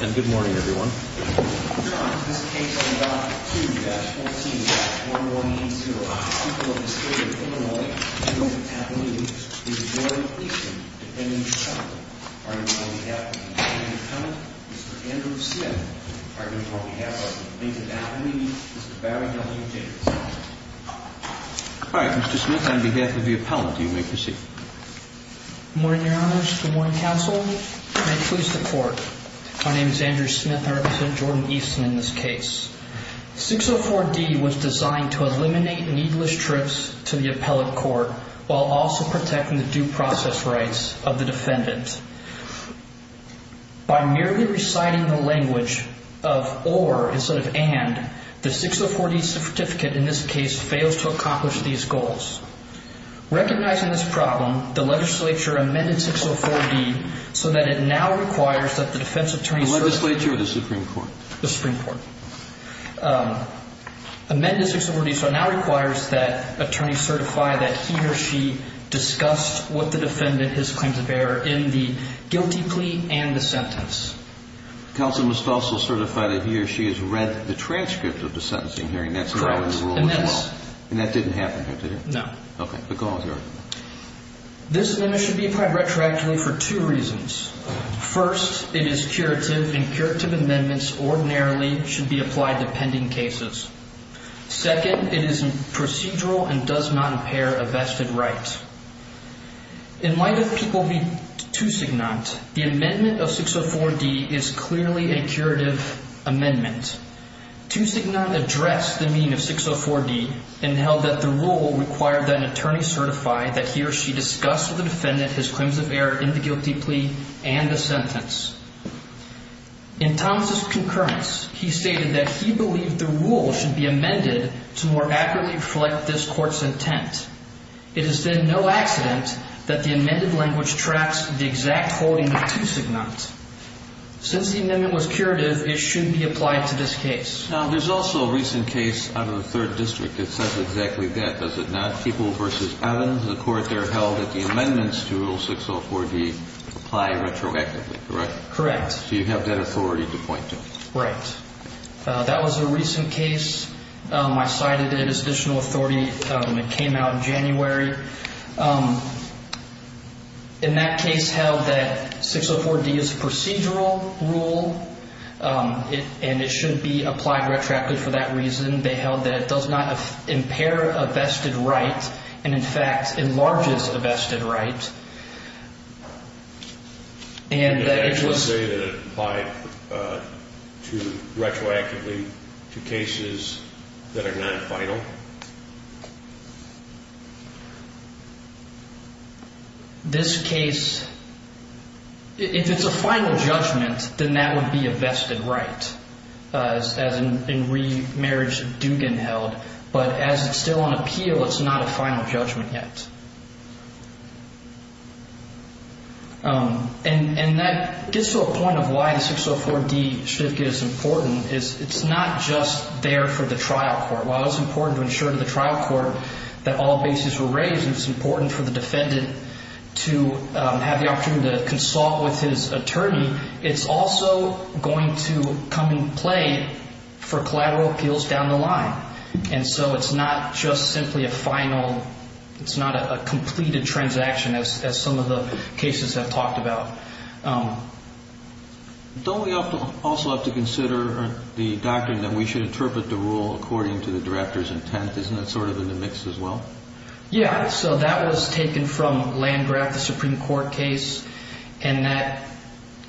And good morning, everyone. Alright, Mr. Smith, on behalf of the appellant, you may proceed. Good morning, Your Honor. Good morning, Counsel. May it please the Court. My name is Andrew Smith. I represent Jordan Easton in this case. 604D was designed to eliminate needless trips to the appellate court while also protecting the due process rights of the defendant. By merely reciting the language of OR instead of AND, the 604D certificate in this case fails to accomplish these goals. Recognizing this problem, the legislature amended 604D so that it now requires that the defense attorney... The legislature or the Supreme Court? The Supreme Court. Amended 604D so it now requires that attorneys certify that he or she discussed with the defendant his claims of error in the guilty plea and the sentence. Counsel must also certify that he or she has read the transcript of the sentencing hearing. That's not in the rule as well. Correct. And that's... And that didn't happen here, did it? No. Okay. But go on, Your Honor. This amendment should be applied retroactively for two reasons. First, it is curative and curative amendments ordinarily should be applied to pending cases. Second, it is procedural and does not impair a vested right. In light of people being two-signant, the amendment of 604D is clearly a curative amendment. Two-signant addressed the meaning of 604D and held that the rule required that an attorney certify that he or she discussed with the defendant his claims of error in the guilty plea and the sentence. In Thomas' concurrence, he stated that he believed the rule should be amended to more accurately reflect this court's intent. It is then no accident that the amended language tracks the exact holding of two-signant. Since the amendment was curative, it should be applied to this case. Now, there's also a recent case out of the Third District that says exactly that, does it not? People v. Evans, the court there held that the amendments to Rule 604D apply retroactively, correct? Correct. So you have that authority to point to. Right. That was a recent case. I cited it as additional authority. It came out in January. In that case held that 604D is a procedural rule and it should be applied retroactively for that reason. They held that it does not impair a vested right and, in fact, enlarges a vested right. Did they actually say that it applied retroactively to cases that are non-final? This case, if it's a final judgment, then that would be a vested right. As in remarriage, it do get held. But as it's still on appeal, it's not a final judgment yet. And that gets to a point of why the 604D should get as important is it's not just there for the trial court. While it's important to ensure to the trial court that all bases were raised and it's important for the defendant to have the opportunity to consult with his attorney, it's also going to come in play for collateral appeals down the line. And so it's not just simply a final, it's not a completed transaction as some of the cases have talked about. Don't we also have to consider the doctrine that we should interpret the rule according to the director's intent? Isn't that sort of in the mix as well? Yeah. So that was taken from Landgraf, the Supreme Court case. And that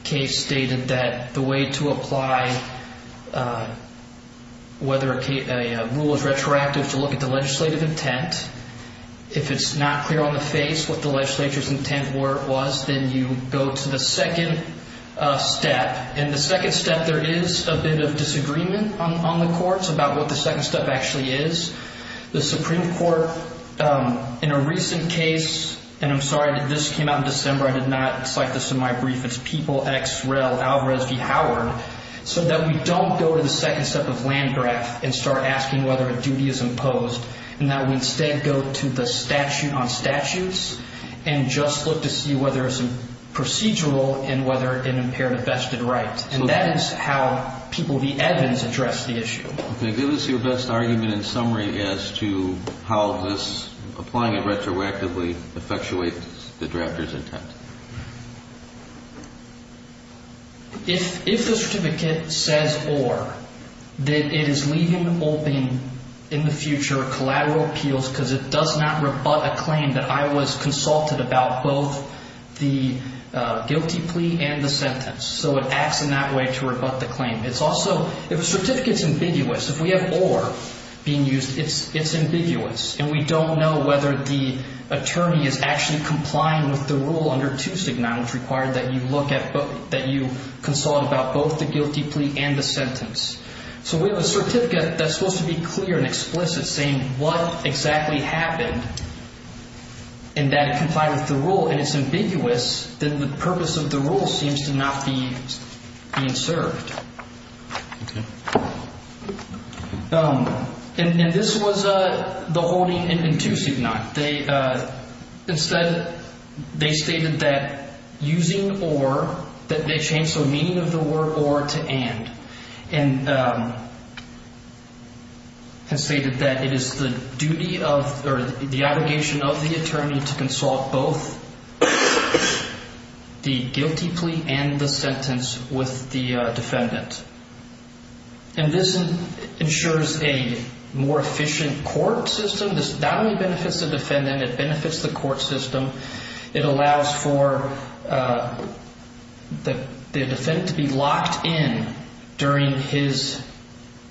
case stated that the way to apply whether a rule is retroactive is to look at the legislative intent. If it's not clear on the face what the legislature's intent was, then you go to the second step. In the second step, there is a bit of disagreement on the courts about what the second step actually is. The Supreme Court, in a recent case, and I'm sorry, this came out in December, I did not cite this in my brief. It's People X Rel Alvarez v. Howard, said that we don't go to the second step of Landgraf and start asking whether a duty is imposed, and that we instead go to the statute on statutes and just look to see whether it's procedural and whether it impaired a vested right. And that is how People v. Evans addressed the issue. Can you give us your best argument in summary as to how this, applying it retroactively, effectuates the drafter's intent? If the certificate says or, that it is leaving open in the future collateral appeals because it does not rebut a claim that I was consulted about both the guilty plea and the sentence. So it acts in that way to rebut the claim. It's also, if a certificate's ambiguous, if we have or being used, it's ambiguous, and we don't know whether the attorney is actually complying with the rule under 269, which required that you look at, that you consult about both the guilty plea and the sentence. So we have a certificate that's supposed to be clear and explicit saying what exactly happened, and that it complied with the rule, and it's ambiguous, then the purpose of the rule seems to not be being served. And this was the holding in 269. They instead, they stated that using or, that they changed the meaning of the word or to and, and stated that it is the duty of or the obligation of the attorney to consult both the guilty plea and the sentence with the defendant. And this ensures a more efficient court system. This not only benefits the defendant, it benefits the court system. It allows for the defendant to be locked in during his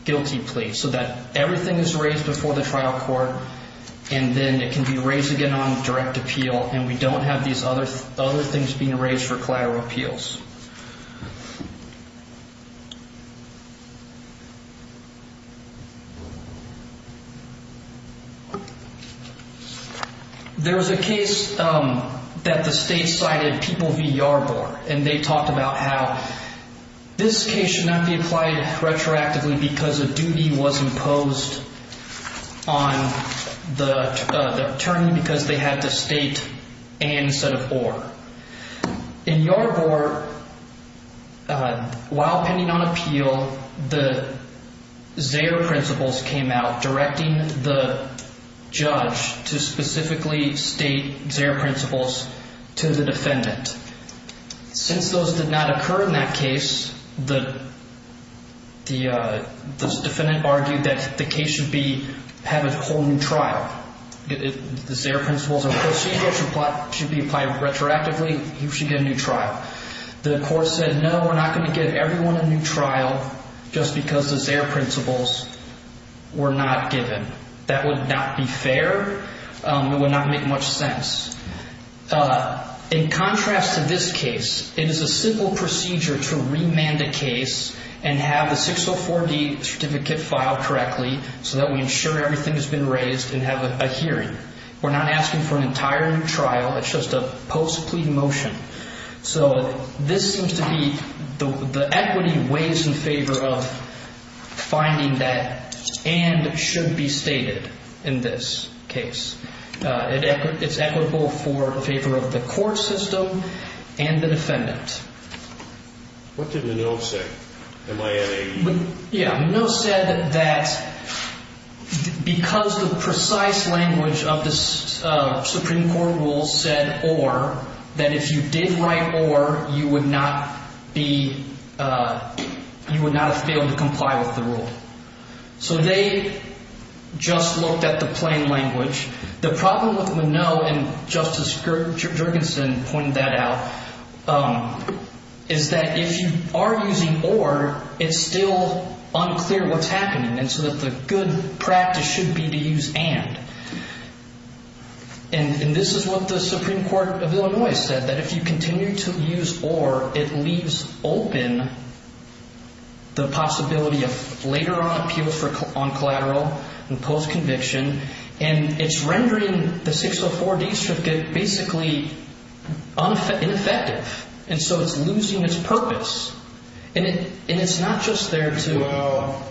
guilty plea so that everything is raised before the trial court, and then it can be raised again on direct appeal, and we don't have these other things being raised for collateral appeals. There was a case that the state cited, People v. Yarborough, and they talked about how this case should not be applied retroactively because a duty was imposed on the attorney because they had to state and instead of or. While pending on appeal, the Zayer principles came out directing the judge to specifically state Zayer principles to the defendant. Since those did not occur in that case, the defendant argued that the case should be, have a whole new trial. The Zayer principles of the procedure should be applied retroactively, he should get a new trial. The court said, no, we're not going to give everyone a new trial just because the Zayer principles were not given. That would not be fair. It would not make much sense. In contrast to this case, it is a simple procedure to remand a case and have the 604D certificate filed correctly so that we ensure everything has been raised and have a hearing. We're not asking for an entire new trial, it's just a post-plea motion. So this seems to be, the equity weighs in favor of finding that and should be stated in this case. It's equitable for the favor of the court system and the defendant. What did Minow say? Yeah, Minow said that because the precise language of the Supreme Court rules said or that if you did write or, you would not be, you would not be able to comply with the rule. So they just looked at the plain language. The problem with Minow, and Justice Jorgensen pointed that out, is that if you are using or, it's still unclear what's happening. And so that the good practice should be to use and. And this is what the Supreme Court of Illinois said. That if you continue to use or, it leaves open the possibility of later on appeal on collateral and post-conviction. And it's rendering the 604D certificate basically ineffective. And so it's losing its purpose. And it's not just there to. Well,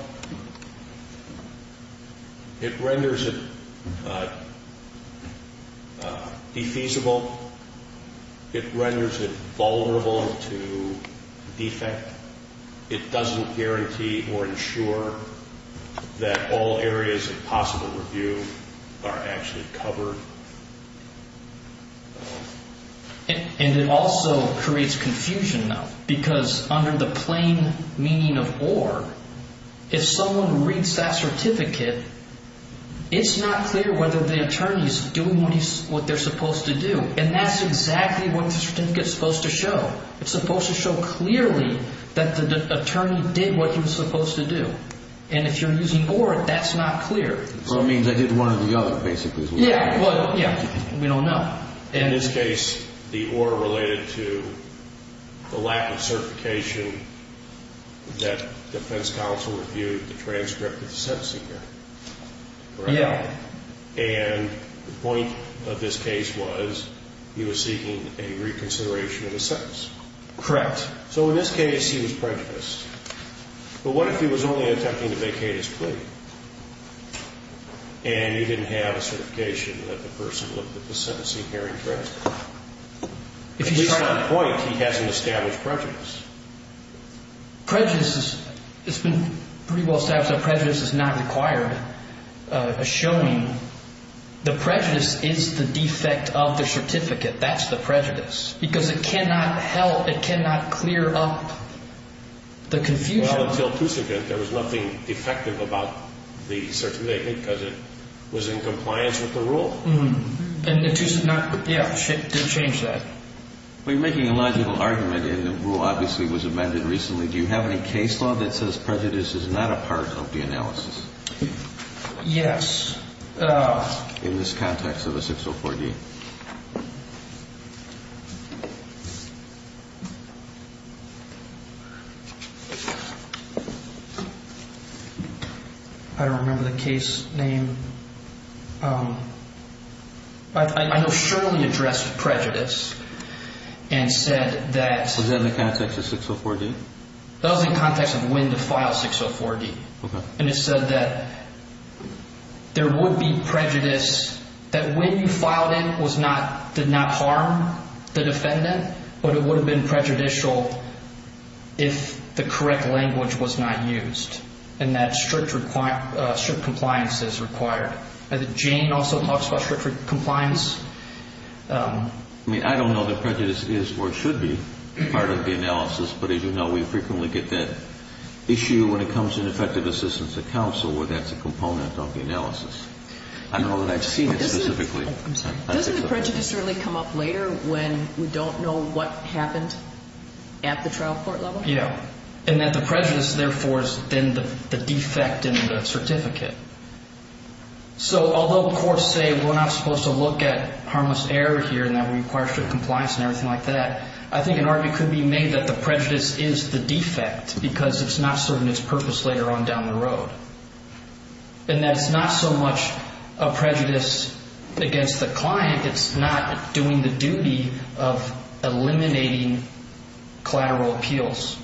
it renders it defeasible. It renders it vulnerable to defect. It doesn't guarantee or ensure that all areas of possible review are actually covered. And it also creates confusion, though. Because under the plain meaning of or, if someone reads that certificate, it's not clear whether the attorney is doing what they're supposed to do. And that's exactly what the certificate is supposed to show. It's supposed to show clearly that the attorney did what he was supposed to do. And if you're using or, that's not clear. So it means I did one or the other, basically. Yeah, well, yeah. We don't know. In this case, the or related to the lack of certification that defense counsel reviewed the transcript of the sentencing here. Yeah. And the point of this case was he was seeking a reconsideration of his sentence. Correct. So in this case, he was prejudiced. But what if he was only attempting to vacate his plea? And you didn't have a certification that the person looked at the sentencing hearing transcript. At least on point, he has an established prejudice. Prejudice is, it's been pretty well established that prejudice is not required. A showing, the prejudice is the defect of the certificate. That's the prejudice. Because it cannot help, it cannot clear up the confusion. Well, until Tusa did, there was nothing defective about the certificate because it was in compliance with the rule. And the Tusa, yeah, didn't change that. We're making a logical argument and the rule obviously was amended recently. Do you have any case law that says prejudice is not a part of the analysis? Yes. In this context of a 604-D. I don't remember the case name. I know Shirley addressed prejudice and said that. Was that in the context of 604-D? That was in context of when to file 604-D. Okay. And it said that there would be prejudice that when you filed it was not, did not harm the defendant. But it would have been prejudicial if the correct language was not used. And that strict compliance is required. Jane also talks about strict compliance. I mean, I don't know that prejudice is or should be part of the analysis. But as you know, we frequently get that issue when it comes to effective assistance to counsel where that's a component of the analysis. I don't know that I've seen it specifically. Doesn't the prejudice really come up later when we don't know what happened at the trial court level? Yeah. And that the prejudice therefore is then the defect in the certificate. So although the courts say we're not supposed to look at harmless error here and that we require strict compliance and everything like that, I think an argument could be made that the prejudice is the defect because it's not serving its purpose later on down the road. And that it's not so much a prejudice against the client. It's not doing the duty of eliminating collateral appeals.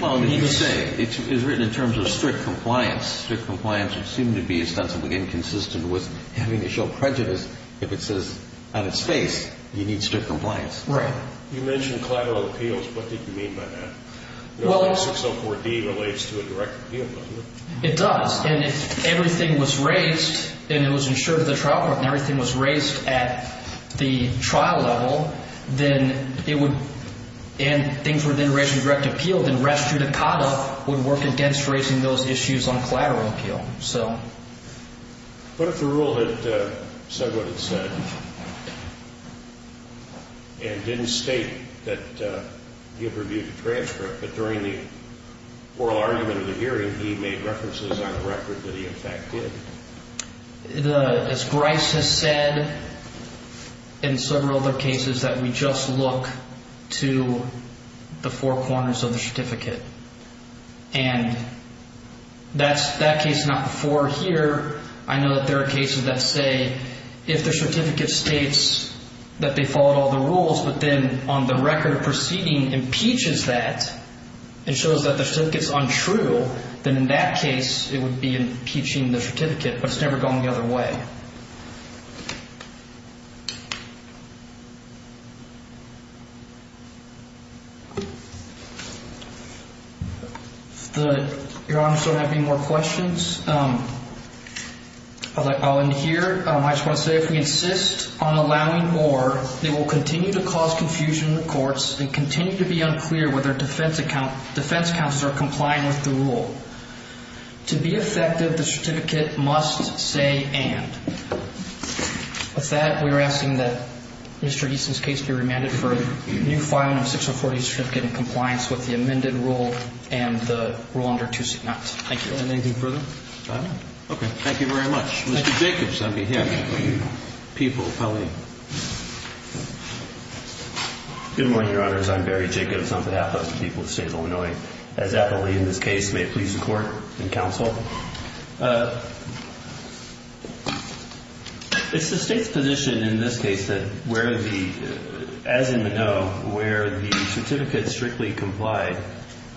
Well, you say it's written in terms of strict compliance. Strict compliance would seem to be ostensibly inconsistent with having to show prejudice. If it says on its face you need strict compliance. Right. You mentioned collateral appeals. What did you mean by that? 604D relates to a direct appeal, doesn't it? It does. And if everything was raised and it was ensured at the trial court and everything was raised at the trial level, and things were then raised in a direct appeal, then rest judicata would work against raising those issues on collateral appeal. But if the rule had said what it said and didn't state that you have to review the transcript, but during the oral argument of the hearing he made references on the record that he in fact did. As Grice has said in several other cases that we just look to the four corners of the certificate. And that case is not before here. I know that there are cases that say if the certificate states that they followed all the rules, but then on the record proceeding impeaches that and shows that the certificate is untrue, then in that case it would be impeaching the certificate. But it's never gone the other way. If your honors don't have any more questions, I'll end here. I just want to say if we insist on allowing more, they will continue to cause confusion in the courts and continue to be unclear whether defense counsels are complying with the rule. To be effective, the certificate must say and. With that, we are asking that Mr. Easton's case be remanded for a new filing of 604A certificate in compliance with the amended rule and the rule under 269. Thank you. Anything further? I don't know. Okay. Thank you very much. Mr. Jacobs. I mean him. People. Pauline. Good morning, your honors. I'm Barry Jacobs on behalf of the people of the state of Illinois. As apparently in this case, may it please the court and counsel. It's the state's position in this case that where the, as in Moneau, where the certificate strictly complied.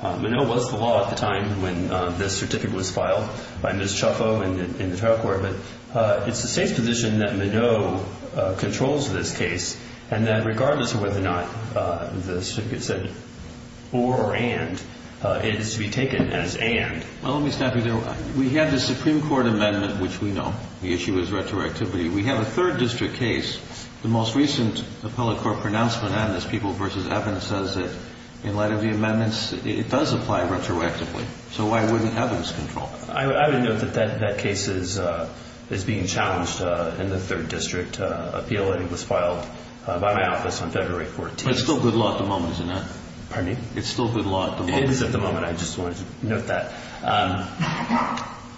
Moneau was the law at the time when the certificate was filed by Ms. Chuffo in the trial court. But it's the state's position that Moneau controls this case and that regardless of whether or not the certificate said or or and, it is to be taken as and. Well, let me stop you there. We have the Supreme Court amendment, which we know. The issue is retroactivity. We have a third district case. The most recent appellate court pronouncement on this, People v. Evans, says that in light of the amendments, it does apply retroactively. So why wouldn't Evans control it? I would note that that case is being challenged in the third district appeal, and it was filed by my office on February 14th. But it's still good law at the moment, isn't it? Pardon me? It's still good law at the moment. It is at the moment. I just wanted to note that.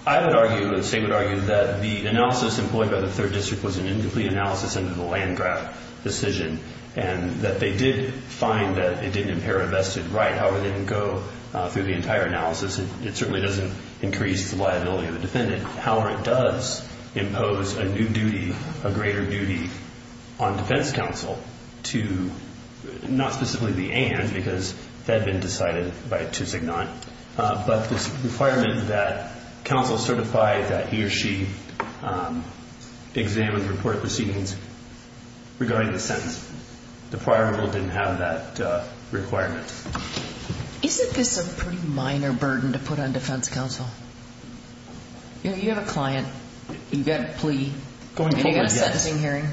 I would argue, the state would argue, that the analysis employed by the third district was an incomplete analysis under the Landgraab decision, and that they did find that it didn't impair a vested right. However, they didn't go through the entire analysis. It certainly doesn't increase the liability of the defendant. However, it does impose a new duty, a greater duty, on defense counsel to not specifically the and because that had been decided by 269. But this requirement that counsel certify that he or she examine the report proceedings regarding the sentence. The prior rule didn't have that requirement. Isn't this a pretty minor burden to put on defense counsel? You have a client. You've got a plea. Going forward, yes. And you've got a sentencing hearing.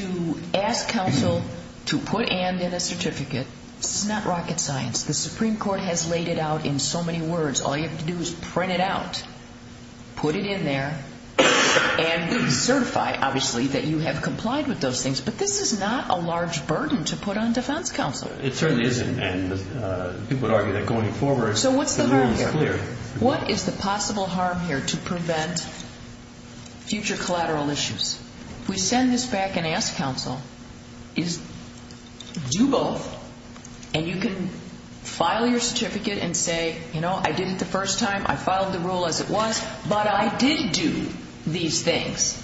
To ask counsel to put and in a certificate, this is not rocket science. The Supreme Court has laid it out in so many words. All you have to do is print it out, put it in there, and certify, obviously, that you have complied with those things. But this is not a large burden to put on defense counsel. It certainly isn't. And people would argue that going forward, the rules are clear. So what's the harm here? To prevent future collateral issues. We send this back and ask counsel, do both. And you can file your certificate and say, you know, I did it the first time. I filed the rule as it was. But I did do these things.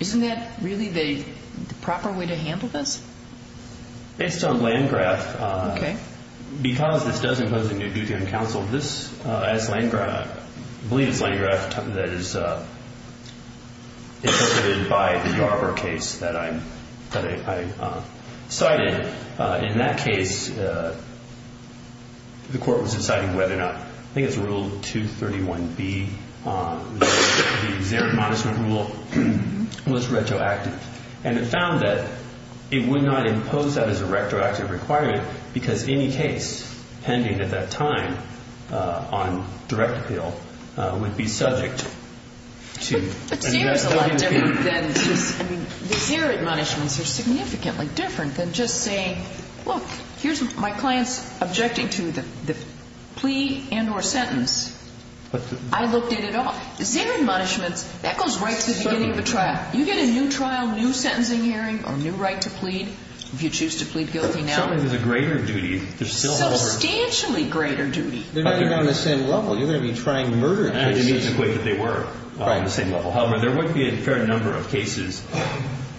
Isn't that really the proper way to handle this? Based on Landgraf, because this does impose a new duty on counsel, as Landgraf, I believe it's Landgraf that is interpreted by the Yarbrough case that I cited. In that case, the court was deciding whether or not, I think it's Rule 231B, the Xeric Modest Rule, was retroactive. And it found that it would not impose that as a retroactive requirement because any case pending at that time on direct appeal would be subject to. But Xeric's a lot different than just, I mean, the Xeric admonishments are significantly different than just saying, look, here's my client's objecting to the plea and or sentence. I looked at it all. The Xeric admonishments, that goes right to the beginning of the trial. You get a new trial, new sentencing hearing or new right to plead if you choose to plead guilty now. I don't think there's a greater duty. Substantially greater duty. They're not even on the same level. You're going to be trying murder cases. I didn't mean to equate that they were on the same level. However, there would be a fair number of cases,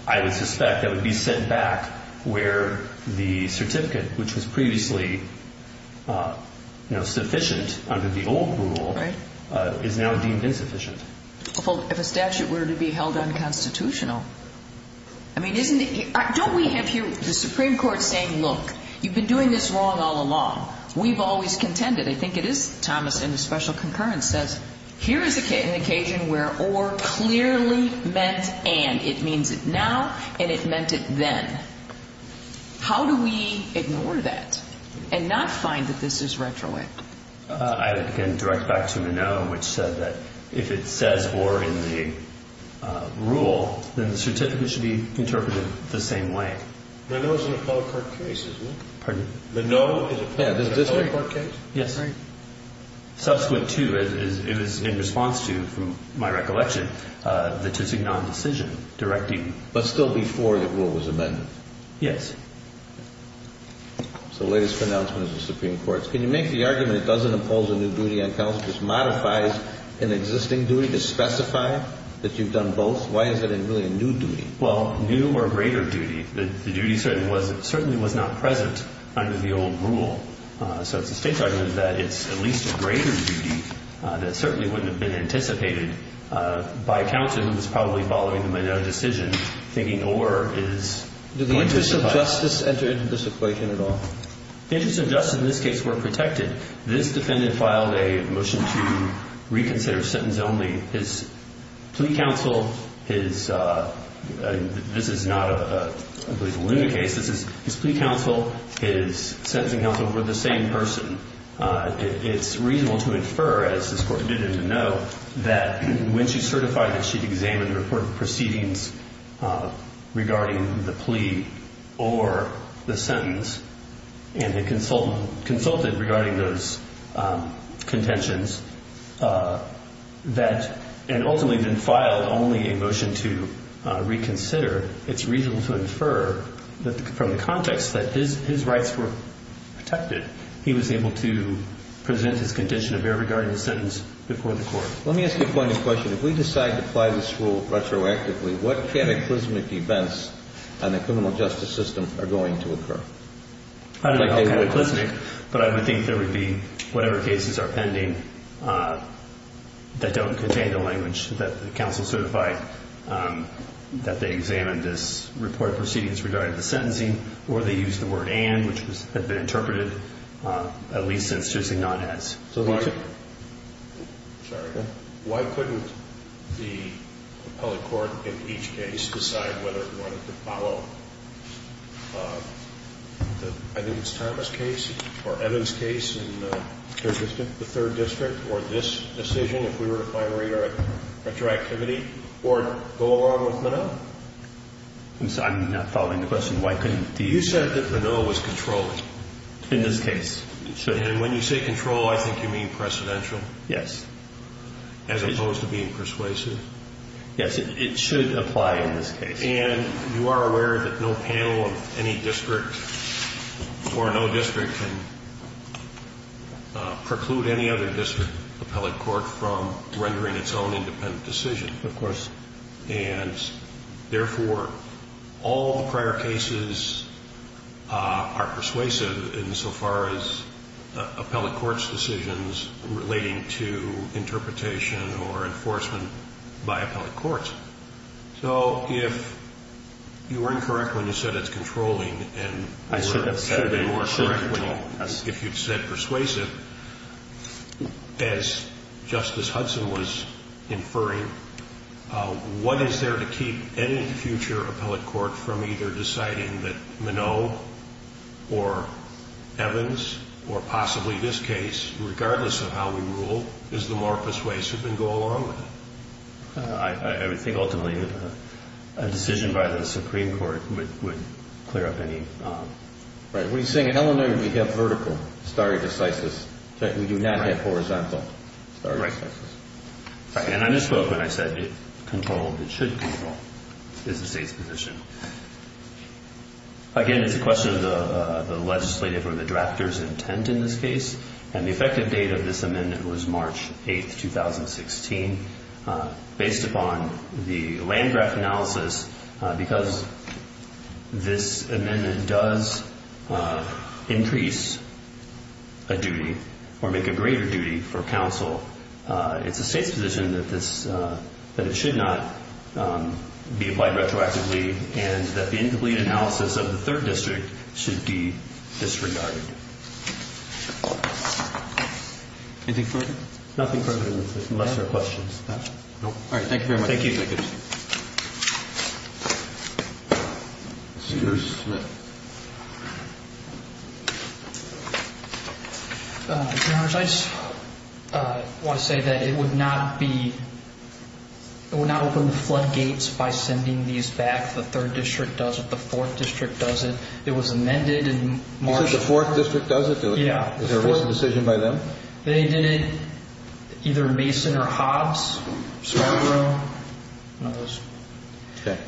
I would suspect, that would be set back where the certificate, which was previously sufficient under the old rule, is now deemed insufficient. If a statute were to be held unconstitutional. I mean, don't we have here the Supreme Court saying, look, you've been doing this wrong all along. We've always contended. I think it is. Thomas in the special concurrence says, here is an occasion where or clearly meant and. It means it now and it meant it then. How do we ignore that and not find that this is retroactive? I can direct back to Minnow, which said that if it says or in the rule, then the certificate should be interpreted the same way. Minnow is an appellate court case, isn't it? Pardon? Minnow is an appellate court case? Yes. Subsequent to is in response to, from my recollection, the Tutsi non-decision directing. But still before the rule was amended. Yes. So the latest pronouncement of the Supreme Court. Can you make the argument it doesn't impose a new duty on counsel, just modifies an existing duty to specify that you've done both? Why is it really a new duty? Well, new or greater duty. The duty certainly was not present under the old rule. So it's a state argument that it's at least a greater duty that certainly wouldn't have been anticipated by counsel who was probably following the Minnow decision, thinking or is. Do the interests of justice enter into this equation at all? The interests of justice in this case were protected. This defendant filed a motion to reconsider sentence only. His plea counsel, his, this is not a, I believe, a luna case. His plea counsel, his sentencing counsel were the same person. It's reasonable to infer, as this Court did in the Minnow, that when she certified that she'd examined the report of proceedings regarding the plea or the sentence, and had consulted regarding those contentions, that, and ultimately then filed only a motion to reconsider, it's reasonable to infer that from the context that his rights were protected, he was able to present his condition of error regarding the sentence before the Court. Let me ask you a pointed question. If we decide to apply this rule retroactively, what cataclysmic events on the criminal justice system are going to occur? I don't know how cataclysmic, but I would think there would be whatever cases are pending that don't contain the language that the counsel certified, that they examined this report of proceedings regarding the sentencing, or they used the word and, which had been interpreted at least since choosing not as. So why couldn't the appellate court in each case decide whether it wanted to follow, I think it's Thomas' case, or Evan's case in the third district, or this decision if we were to final rate our retroactivity, or go along with Moneau? I'm not following the question. Why couldn't the... You said that Moneau was controlling. In this case. And when you say control, I think you mean precedential. Yes. As opposed to being persuasive. Yes, it should apply in this case. And you are aware that no panel of any district or no district can preclude any other district appellate court from rendering its own independent decision. Of course. And therefore, all prior cases are persuasive insofar as appellate court's decisions relating to interpretation or enforcement by appellate courts. So if you were incorrect when you said it's controlling... I should have said it's controlling. If you said persuasive, as Justice Hudson was inferring, what is there to keep any future appellate court from either deciding that Moneau, or Evans, or possibly this case, regardless of how we rule, is the more persuasive and go along with it? I would think ultimately a decision by the Supreme Court would clear up any... Right. What are you saying? In Illinois, we have vertical stare decisis. We do not have horizontal stare decisis. Right. And I misspoke when I said it should control. It's the state's position. Again, it's a question of the legislative or the drafter's intent in this case. And the effective date of this amendment was March 8, 2016. Based upon the land draft analysis, because this amendment does increase a duty or make a greater duty for counsel, it's the state's position that it should not be applied retroactively and that the incomplete analysis of the third district should be disregarded. Anything further? Nothing further, unless there are questions. All right. Thank you very much. Thank you. Your Honor, I just want to say that it would not open the floodgates by sending these back. The third district does it. The fourth district does it. It was amended in March. You said the fourth district does it? Yeah. Was there a voice decision by them? They did it, either Mason or Hobbs, Scarborough. None of those. Okay.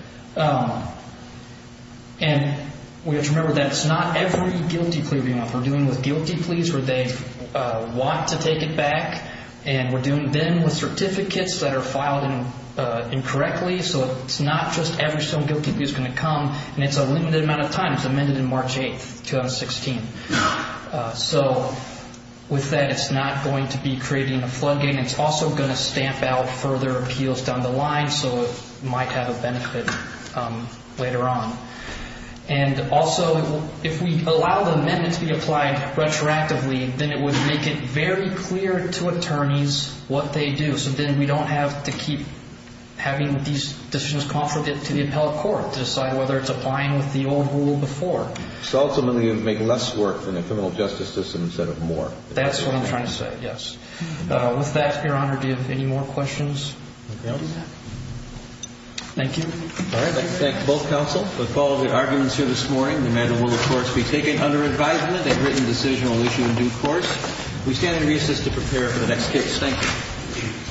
And we have to remember that it's not every guilty plea we want. We're dealing with guilty pleas where they want to take it back. And we're dealing then with certificates that are filed incorrectly. So it's not just every single guilty plea that's going to come. And it's a limited amount of time. It was amended in March 8, 2016. So with that, it's not going to be creating a floodgate. And it's also going to stamp out further appeals down the line. So it might have a benefit later on. And also, if we allow the amendment to be applied retroactively, then it would make it very clear to attorneys what they do. So then we don't have to keep having these decisions conflicted to the appellate court to decide whether it's applying with the old rule before. So ultimately, it would make less work in the criminal justice system instead of more. That's what I'm trying to say, yes. With that, Your Honor, do you have any more questions? Thank you. All right. Let's thank both counsel for following the arguments here this morning. The matter will, of course, be taken under advisement. A written decision will issue in due course. We stand to reassist to prepare for the next case. Thank you.